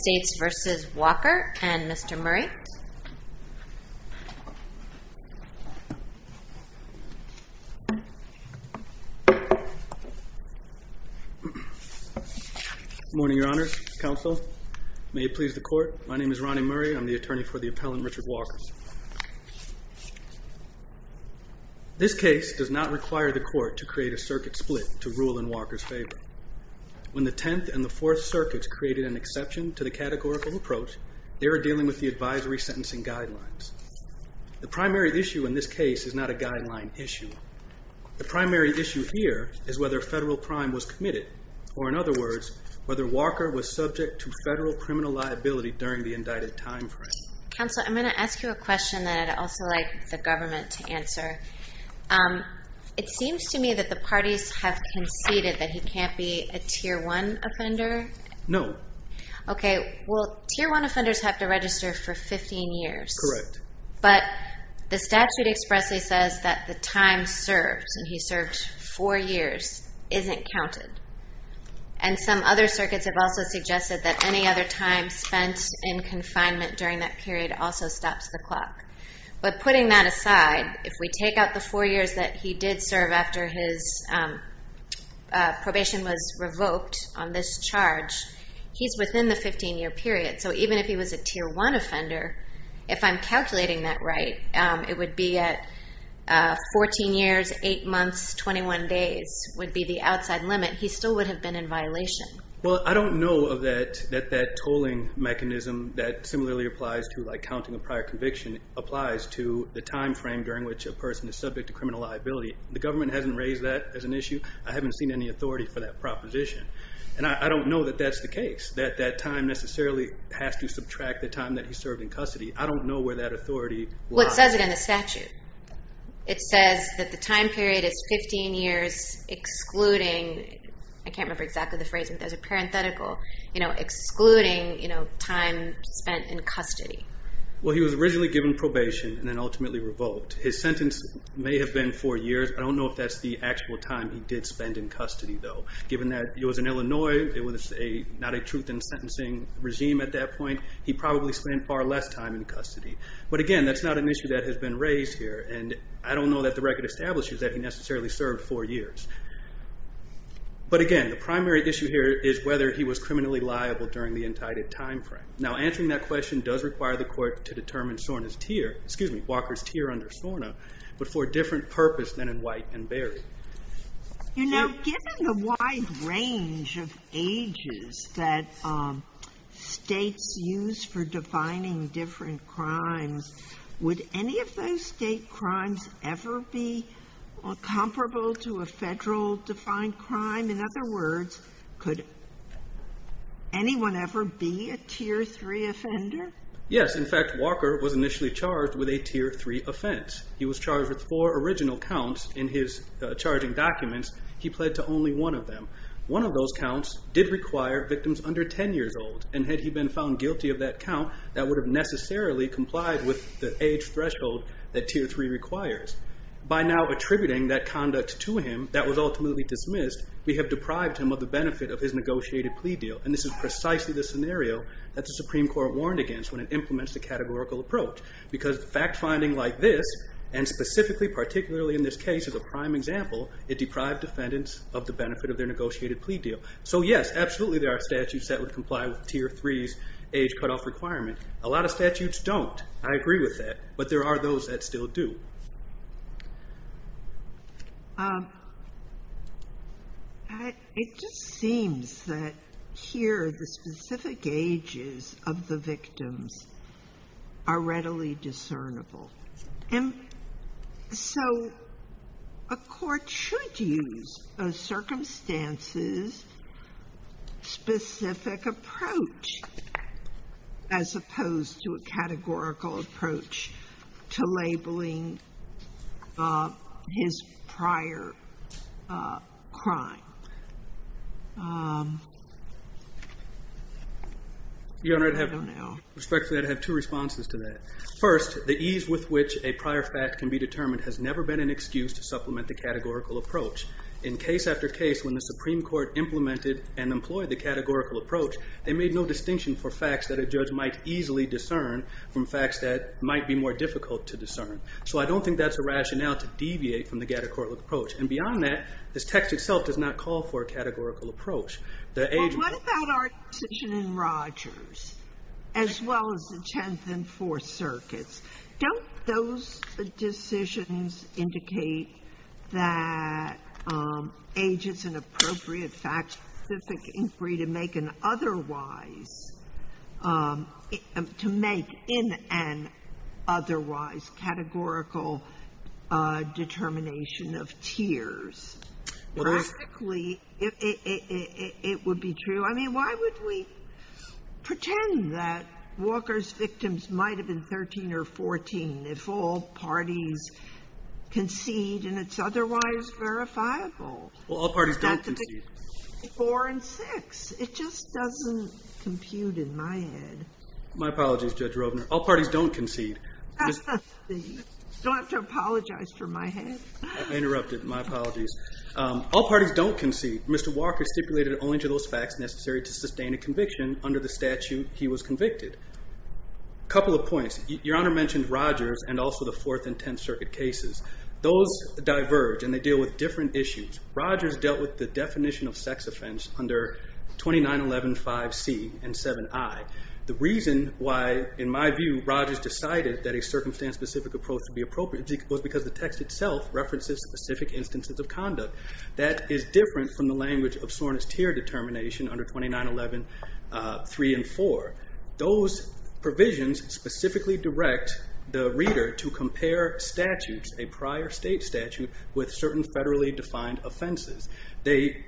States v. Walker and Mr. Murray. Good morning your honors, counsel. May it please the court, my name is Ronnie Murray, I'm the attorney for the appellant Richard Walker. This case does not require the court to create a circuit split to rule in Walker's favor. When the 10th and the 4th circuits created an exception to the categorical approach, they were dealing with the advisory sentencing guidelines. The primary issue in this case is not a guideline issue. The primary issue here is whether federal crime was committed, or in other words, whether Walker was subject to federal criminal liability during the indicted time frame. Counsel, I'm going to ask you a question that I'd also like the government to answer. It seems to me that the parties have conceded that he can't be a Tier 1 offender. No. Okay, well Tier 1 offenders have to register for 15 years. Correct. But the statute expressly says that the time served, and he served 4 years, isn't counted. And some other circuits have also suggested that any other time spent in confinement during that period also stops the clock. But putting that aside, if we take out the 4 years that he did serve after his probation was revoked on this charge, he's within the 15-year period. So even if he was a Tier 1 offender, if I'm calculating that right, it would be at 14 years, 8 months, 21 days would be the outside limit. He still would have been in violation. Well, I don't know that that tolling mechanism that similarly applies to counting a prior conviction applies to the time frame during which a person is subject to criminal liability. The government hasn't raised that as an issue. I haven't seen any authority for that proposition. And I don't know that that's the case, that that time necessarily has to subtract the time that he served in custody. I don't know where that authority lies. Well, it says it in the statute. It says that the time period is 15 years excluding, I can't remember exactly the phrase, but there's a parenthetical, excluding time spent in custody. Well, he was originally given probation and then ultimately revoked. His sentence may have been 4 years. I don't know if that's the actual time he did spend in custody, though. Given that it was in Illinois, it was not a truth in sentencing regime at that point, he probably spent far less time in custody. But again, that's not an issue that has been raised here, and I don't know that the record establishes that he necessarily served 4 years. But again, the primary issue here is whether he was criminally liable during the entitled time frame. Now, answering that question does require the court to determine Walker's tier under SORNA, but for a different purpose than in White and Berry. You know, given the wide range of ages that States use for defining different crimes, would any of those State crimes ever be comparable to a Federal-defined crime? In other words, could anyone ever be a Tier 3 offender? Yes. In fact, Walker was initially charged with a Tier 3 offense. He was charged with 4 original counts in his charging documents. He pled to only one of them. One of those counts did require victims under 10 years old, and had he been found guilty of that count, that would have necessarily complied with the age threshold that Tier 3 requires. By now attributing that conduct to him that was ultimately dismissed, we have deprived him of the benefit of his negotiated plea deal, and this is precisely the scenario that the Supreme Court warned against when it implements the categorical approach, because fact-finding like this, and specifically, particularly in this case, as a prime example, it deprived defendants of the benefit of their negotiated plea deal. So, yes, absolutely there are statutes that would comply with Tier 3's age cutoff requirement. A lot of statutes don't. I agree with that, but there are those that still do. It just seems that here the specific ages of the victims are readily discernible. And so a court should use a circumstances-specific approach as opposed to a categorical approach to labeling his prior crime. Your Honor, I'd have two responses to that. First, the ease with which a prior fact can be determined has never been an excuse to supplement the categorical approach. In case after case, when the Supreme Court implemented and employed the categorical approach, they made no distinction for facts that a judge might easily discern from facts that might be more difficult to discern. So I don't think that's a rationale to deviate from the categorical approach. And beyond that, this text itself does not call for a categorical approach. The age of the victim. Sotomayor, what about our decision in Rogers, as well as the Tenth and Fourth Circuits? Don't those decisions indicate that age is an appropriate fact-specific inquiry to make an otherwise, to make in an otherwise categorical determination of tiers? Practically, it would be true. I mean, why would we pretend that Walker's victims might have been 13 or 14 if all parties concede and it's otherwise verifiable? Well, all parties don't concede. Four and six. It just doesn't compute in my head. My apologies, Judge Roebner. All parties don't concede. Don't have to apologize for my head. I interrupted. My apologies. All parties don't concede. Mr. Walker stipulated only to those facts necessary to sustain a conviction under the statute he was convicted. A couple of points. Your Honor mentioned Rogers and also the Fourth and Tenth Circuit cases. Those diverge and they deal with different issues. Rogers dealt with the definition of sex offense under 2911.5c and 7i. The reason why, in my view, Rogers decided that a circumstance-specific approach would be appropriate was because the text itself references specific instances of conduct. That is different from the language of Soren's tier determination under 2911.3 and 4. Those provisions specifically direct the reader to compare statutes, a prior state statute, with certain federally defined offenses. They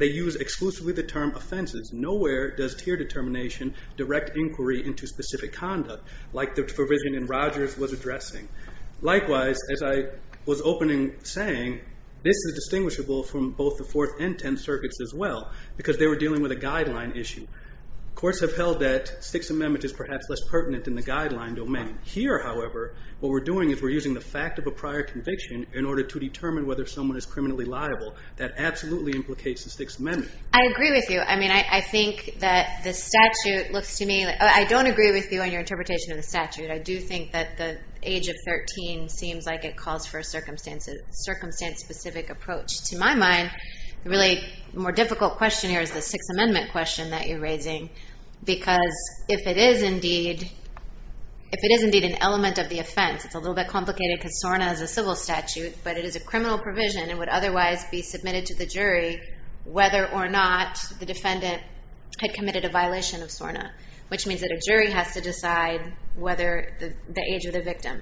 use exclusively the term offenses. Nowhere does tier determination direct inquiry into specific conduct like the provision in Rogers was addressing. Likewise, as I was opening saying, this is distinguishable from both the Fourth and Tenth Circuits as well because they were dealing with a guideline issue. Courts have held that Sixth Amendment is perhaps less pertinent in the guideline domain. Here, however, what we're doing is we're using the fact of a prior conviction in order to determine whether someone is criminally liable. That absolutely implicates the Sixth Amendment. I agree with you. I mean, I think that the statute looks to me like I don't agree with you on your interpretation of the statute. I do think that the age of 13 seems like it calls for a circumstance-specific approach. To my mind, the really more difficult question here is the Sixth Amendment question that you're raising because if it is indeed an element of the offense, it's a little bit complicated because SORNA is a civil statute, but it is a criminal provision and would otherwise be submitted to the jury whether or not the defendant had committed a violation of SORNA, which means that a jury has to decide whether the age of the victim.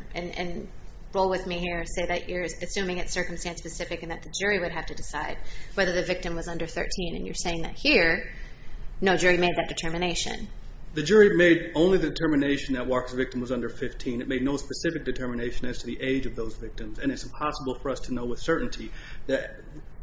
Roll with me here. Say that you're assuming it's circumstance-specific and that the jury would have to decide whether the victim was under 13. And you're saying that here no jury made that determination. The jury made only the determination that Walker's victim was under 15. It made no specific determination as to the age of those victims, and it's impossible for us to know with certainty. The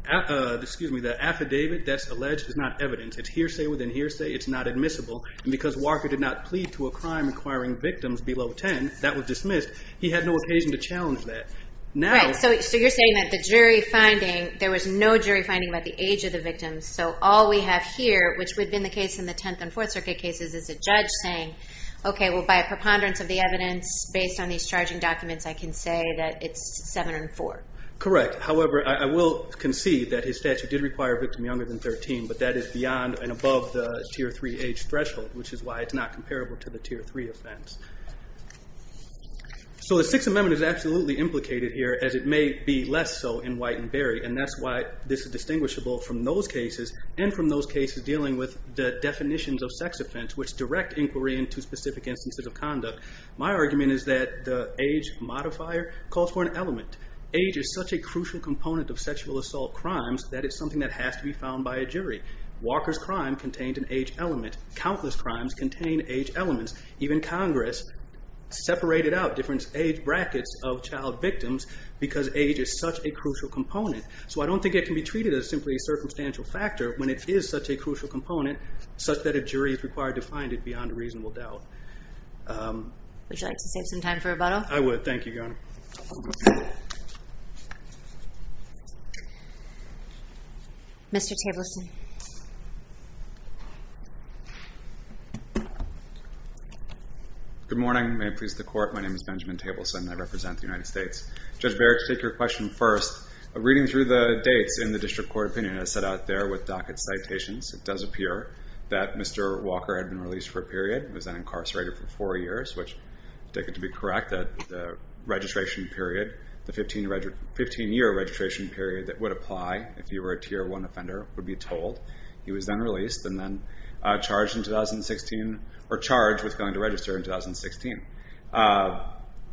affidavit that's alleged is not evidence. It's hearsay within hearsay. It's not admissible. And because Walker did not plead to a crime requiring victims below 10, that was dismissed. He had no occasion to challenge that. Right. So you're saying that the jury finding, there was no jury finding about the age of the victim, so all we have here, which would have been the case in the Tenth and Fourth Circuit cases, is a judge saying, okay, well, by a preponderance of the evidence, based on these charging documents, I can say that it's 7 and 4. Correct. However, I will concede that his statute did require a victim younger than 13, but that is beyond and above the Tier 3 age threshold, which is why it's not comparable to the Tier 3 offense. So the Sixth Amendment is absolutely implicated here, as it may be less so in White and Berry, and that's why this is distinguishable from those cases, and from those cases dealing with the definitions of sex offense, which direct inquiry into specific instances of conduct. My argument is that the age modifier calls for an element. Age is such a crucial component of sexual assault crimes that it's something that has to be found by a jury. Walker's crime contained an age element. Countless crimes contain age elements. Even Congress separated out different age brackets of child victims because age is such a crucial component. So I don't think it can be treated as simply a circumstantial factor when it is such a crucial component, such that a jury is required to find it beyond reasonable doubt. Would you like to save some time for rebuttal? I would. Thank you, Your Honor. Mr. Tableson. Good morning. May it please the Court. My name is Benjamin Tableson, and I represent the United States. Judge Barrett, to take your question first, reading through the dates in the district court opinion I set out there with docket citations, it does appear that Mr. Walker had been released for a period, was then incarcerated for four years, which I take it to be correct that the registration period, the 15-year registration period that would apply if you were a Tier 1 offender, would be told. He was then released and then charged in 2016, or charged with going to register in 2016.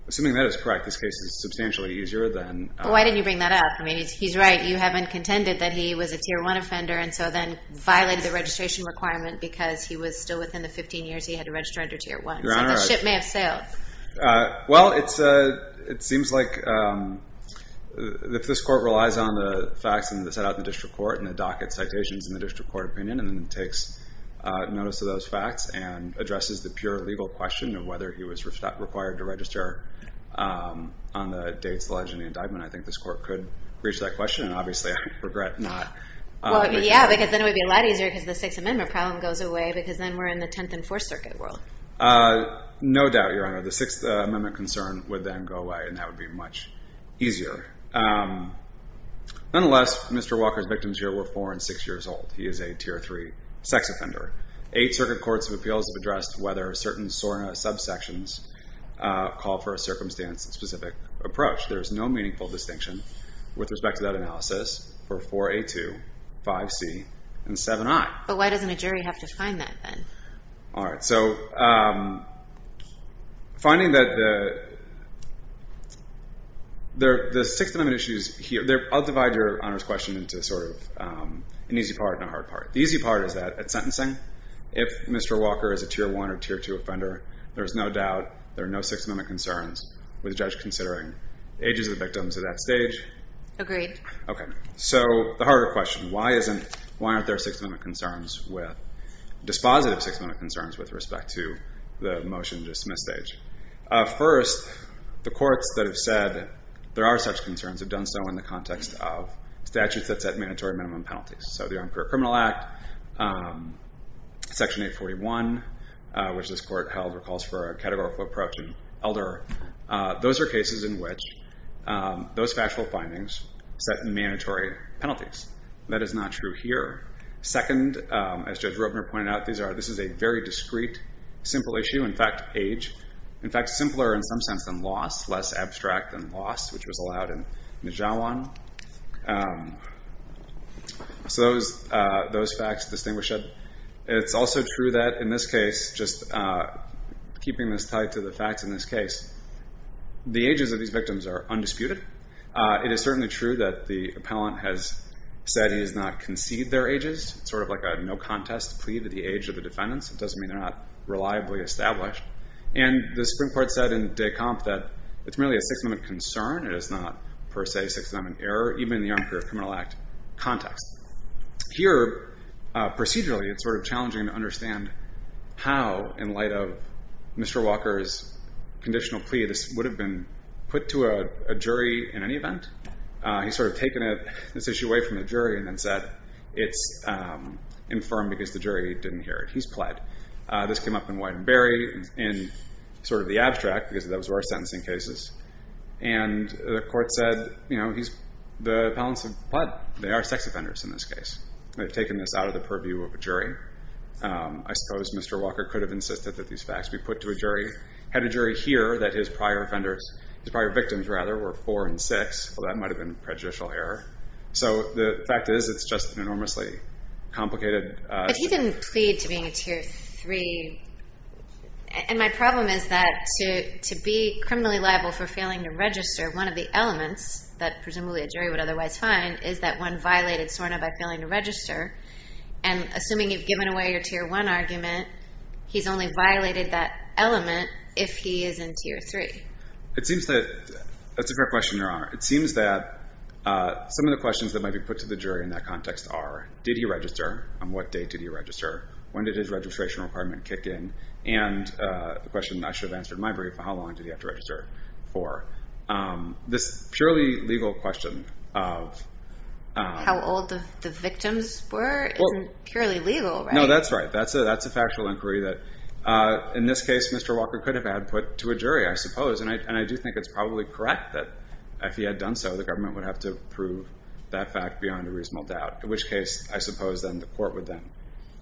Assuming that is correct, this case is substantially easier than... Why didn't you bring that up? I mean, he's right. You have contended that he was a Tier 1 offender and so then violated the registration requirement because he was still within the 15 years he had to register under Tier 1. Your Honor, I... So the ship may have sailed. Well, it seems like if this Court relies on the facts in the set out in the district court and the docket citations in the district court opinion and then takes notice of those facts and addresses the pure legal question of whether he was required to register on the dates alleged in the indictment, I think this Court could reach that question and obviously I regret not... Well, yeah, because then it would be a lot easier because the Sixth Amendment problem goes away because then we're in the Tenth and Fourth Circuit world. No doubt, Your Honor. The Sixth Amendment concern would then go away and that would be much easier. Nonetheless, Mr. Walker's victims here He is a Tier 3 sex offender. Eight circuit courts of appeals have addressed whether certain SORNA subsections call for a circumstance-specific approach. There is no meaningful distinction with respect to that analysis for 4A2, 5C, and 7I. But why doesn't a jury have to find that then? All right. So finding that the Sixth Amendment issues here... I'll divide Your Honor's question into sort of an easy part and a hard part. The easy part is that at sentencing, if Mr. Walker is a Tier 1 or Tier 2 offender, there's no doubt, there are no Sixth Amendment concerns with the judge considering the ages of the victims at that stage. Agreed. Okay. So the harder question, why aren't there Sixth Amendment concerns with... dispositive Sixth Amendment concerns with respect to the motion-dismiss stage? First, the courts that have said there are such concerns have done so in the context of statutes that set mandatory minimum penalties. So the Armed Career Criminal Act, Section 841, which this court held recalls for a categorical approach in Elder, those are cases in which those factual findings set mandatory penalties. That is not true here. Second, as Judge Robner pointed out, this is a very discreet, simple issue. In fact, age... In fact, simpler in some sense than loss, less abstract than loss, which was allowed in Nijawan. So those facts distinguish it. It's also true that in this case, just keeping this tied to the facts in this case, the ages of these victims are undisputed. It is certainly true that the appellant has said he has not conceded their ages. It's sort of like a no-contest plea to the age of the defendants. It doesn't mean they're not reliably established. And the Supreme Court said in Descamps that it's merely a Sixth Amendment concern. It is not, per se, Sixth Amendment error, even in the Armed Career Criminal Act context. Here, procedurally, it's sort of challenging to understand how, in light of Mr. Walker's conditional plea, this would have been put to a jury in any event. He's sort of taken this issue away from the jury and then said it's infirmed because the jury didn't hear it. He's pled. This came up in Widenberry in sort of the abstract because those were our sentencing cases. And the court said the appellants have pled. They are sex offenders in this case. They've taken this out of the purview of a jury. I suppose Mr. Walker could have insisted that these facts be put to a jury, had a jury hear that his prior offenders, his prior victims, rather, were 4 and 6. Well, that might have been prejudicial error. So the fact is it's just an enormously complicated... But he didn't plead to being a Tier 3. And my problem is that to be criminally liable for failing to register one of the elements that presumably a jury would otherwise find is that one violated SORNA by failing to register. And assuming you've given away your Tier 1 argument, he's only violated that element if he is in Tier 3. It seems that... That's a great question, Your Honor. It seems that some of the questions that might be put to the jury in that context are, did he register? On what date did he register? When did his registration requirement kick in? And the question I should have answered in my brief, how long did he have to register for? This purely legal question of... How old the victims were isn't purely legal, right? No, that's right. That's a factual inquiry that... In this case, Mr. Walker could have had put to a jury, I suppose. And I do think it's probably correct that if he had done so, the government would have to prove that fact beyond a reasonable doubt, in which case, I suppose, then the court would then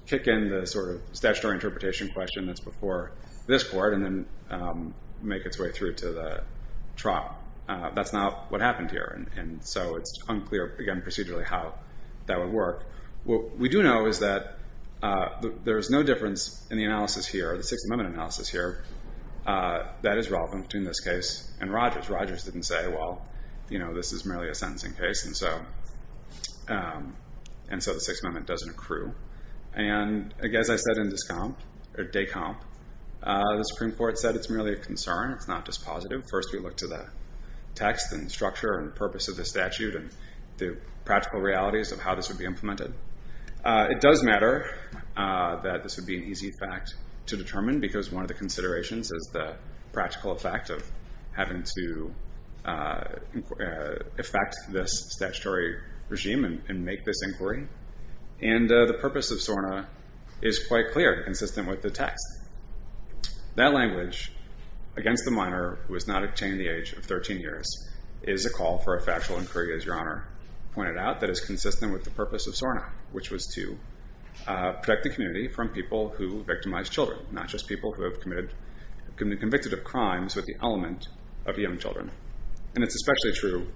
kick in the sort of statutory interpretation question that's before this court and then make its way through to the trial. That's not what happened here. And so it's unclear, again, procedurally, how that would work. What we do know is that there is no difference in the analysis here, the Sixth Amendment analysis here, that is relevant between this case and Rogers. Rogers didn't say, well, you know, this is merely a sentencing case. And so the Sixth Amendment doesn't accrue. And as I said in Descomp, or Descomp, the Supreme Court said it's merely a concern. It's not just positive. First we look to the text and structure and purpose of the statute and the practical realities of how this would be implemented. It does matter that this would be an easy fact to determine because one of the considerations is the practical effect of having to affect this statutory regime and make this inquiry. And the purpose of SORNA is quite clear and consistent with the text. That language, against the minor who has not attained the age of 13 years, is a call for a factual inquiry, as Your Honor pointed out, that is consistent with the purpose of SORNA, which was to protect the community from people who victimized children, not just people who have been convicted of crimes with the element of young children. And it's especially true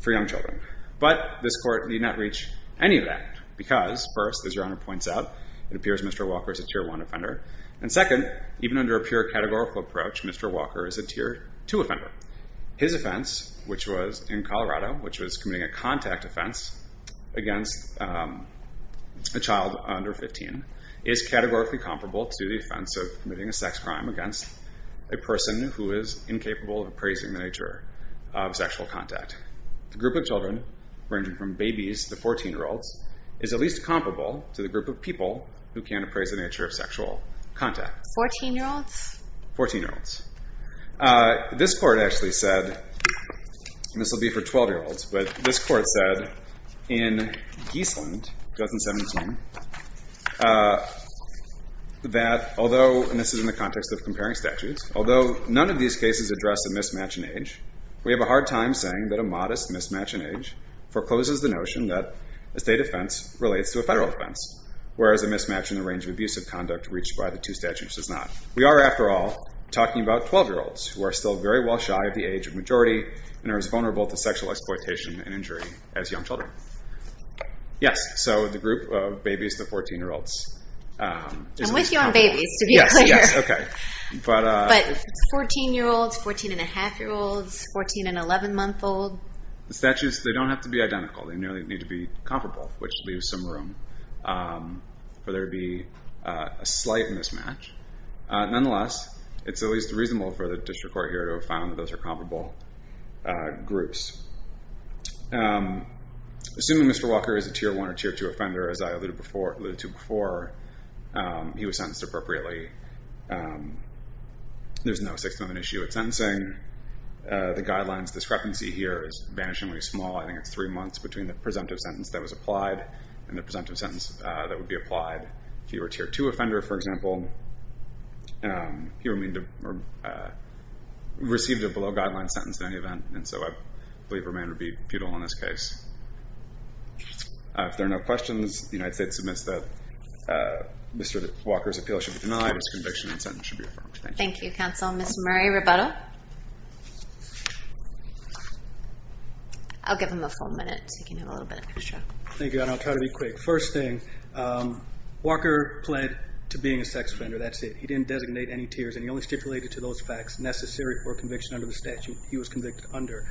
for young children. But this Court need not reach any of that because, first, as Your Honor points out, it appears Mr. Walker is a Tier 1 offender. And second, even under a pure categorical approach, Mr. Walker is a Tier 2 offender. His offense, which was in Colorado, which was committing a contact offense against a child under 15, is categorically comparable to the offense of committing a sex crime against a person who is incapable of appraising the nature of sexual contact. The group of children, ranging from babies to 14-year-olds, is at least comparable to the group of people who can appraise the nature of sexual contact. 14-year-olds? 14-year-olds. This Court actually said, and this will be for 12-year-olds, but this Court said in Geasland, 2017, that although, and this is in the context of comparing statutes, although none of these cases address a mismatch in age, we have a hard time saying that a modest mismatch in age forecloses the notion that a state offense relates to a federal offense, whereas a mismatch in the range of abusive conduct reached by the two statutes does not. We are, after all, talking about 12-year-olds who are still very well shy of the age of majority and are as vulnerable to sexual exploitation and injury as young children. Yes, so the group of babies to 14-year-olds. I'm with you on babies, to be clear. Yes, okay. But 14-year-olds, 14-and-a-half-year-olds, 14-and-11-month-old. The statutes, they don't have to be identical. They nearly need to be comparable, which leaves some room for there to be a slight mismatch. Nonetheless, it's at least reasonable for the District Court here to have found that those are comparable groups. Assuming Mr. Walker is a Tier 1 or Tier 2 offender, as I alluded to before, he was sentenced appropriately. There's no 6th Amendment issue with sentencing. The guidelines discrepancy here is vanishingly small. I think it's three months between the presumptive sentence that was applied and the presumptive sentence that would be applied. If he were a Tier 2 offender, for example, he received a below-guideline sentence in any event, and so I believe remand would be futile in this case. If there are no questions, the United States submits that Mr. Walker's appeal should be denied, his conviction and sentence should be affirmed. Thank you. Thank you, Counsel. Ms. Murray-Roberto? I'll give him a full minute so he can have a little bit extra. Thank you, and I'll try to be quick. First thing, Walker pled to being a sex offender, that's it. He didn't designate any tiers, and he only stipulated to those facts necessary for conviction under the statute he was convicted under.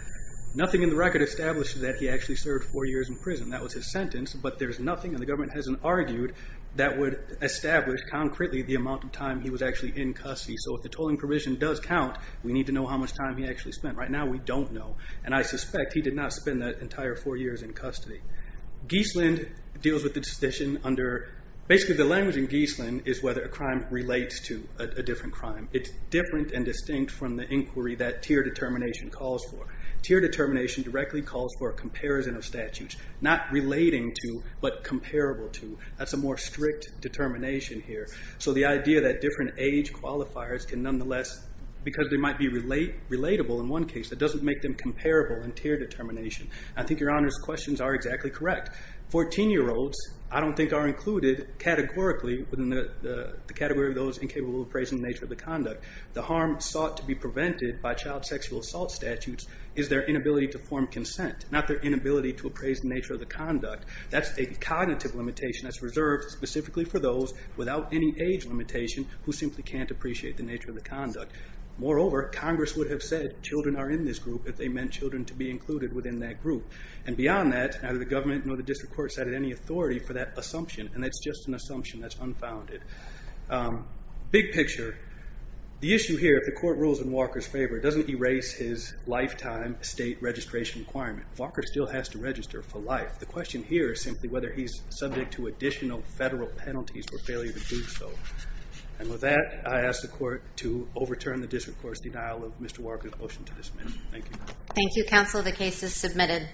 Nothing in the record establishes that he actually served four years in prison. That was his sentence, but there's nothing, and the government hasn't argued that would establish concretely the amount of time he was actually in custody. So if the tolling provision does count, we need to know how much time he actually spent. Right now we don't know, and I suspect he did not spend the entire four years in custody. Geesland deals with the decision under, basically the language in Geesland is whether a crime relates to a different crime. It's different and distinct from the inquiry that tier determination calls for. Tier determination directly calls for a comparison of statutes, not relating to, but comparable to. That's a more strict determination here. So the idea that different age qualifiers can nonetheless, because they might be relatable in one case, that doesn't make them comparable in tier determination. I think your Honor's questions are exactly correct. Fourteen-year-olds I don't think are included categorically within the category of those incapable of appraising the nature of the conduct. The harm sought to be prevented by child sexual assault statutes is their inability to form consent, not their inability to appraise the nature of the conduct. That's a cognitive limitation that's reserved specifically for those without any age limitation who simply can't appreciate the nature of the conduct. Moreover, Congress would have said children are in this group if they meant children to be included within that group. And beyond that, neither the government nor the district court cited any authority for that assumption. And that's just an assumption that's unfounded. Big picture, the issue here, if the court rules in Walker's favor, doesn't erase his lifetime state registration requirement. Walker still has to register for life. The question here is simply whether he's subject to additional federal penalties for failure to do so. And with that, I ask the court to overturn the district court's denial of Mr. Walker's motion to dismiss. Thank you. Thank you, counsel. The case is submitted.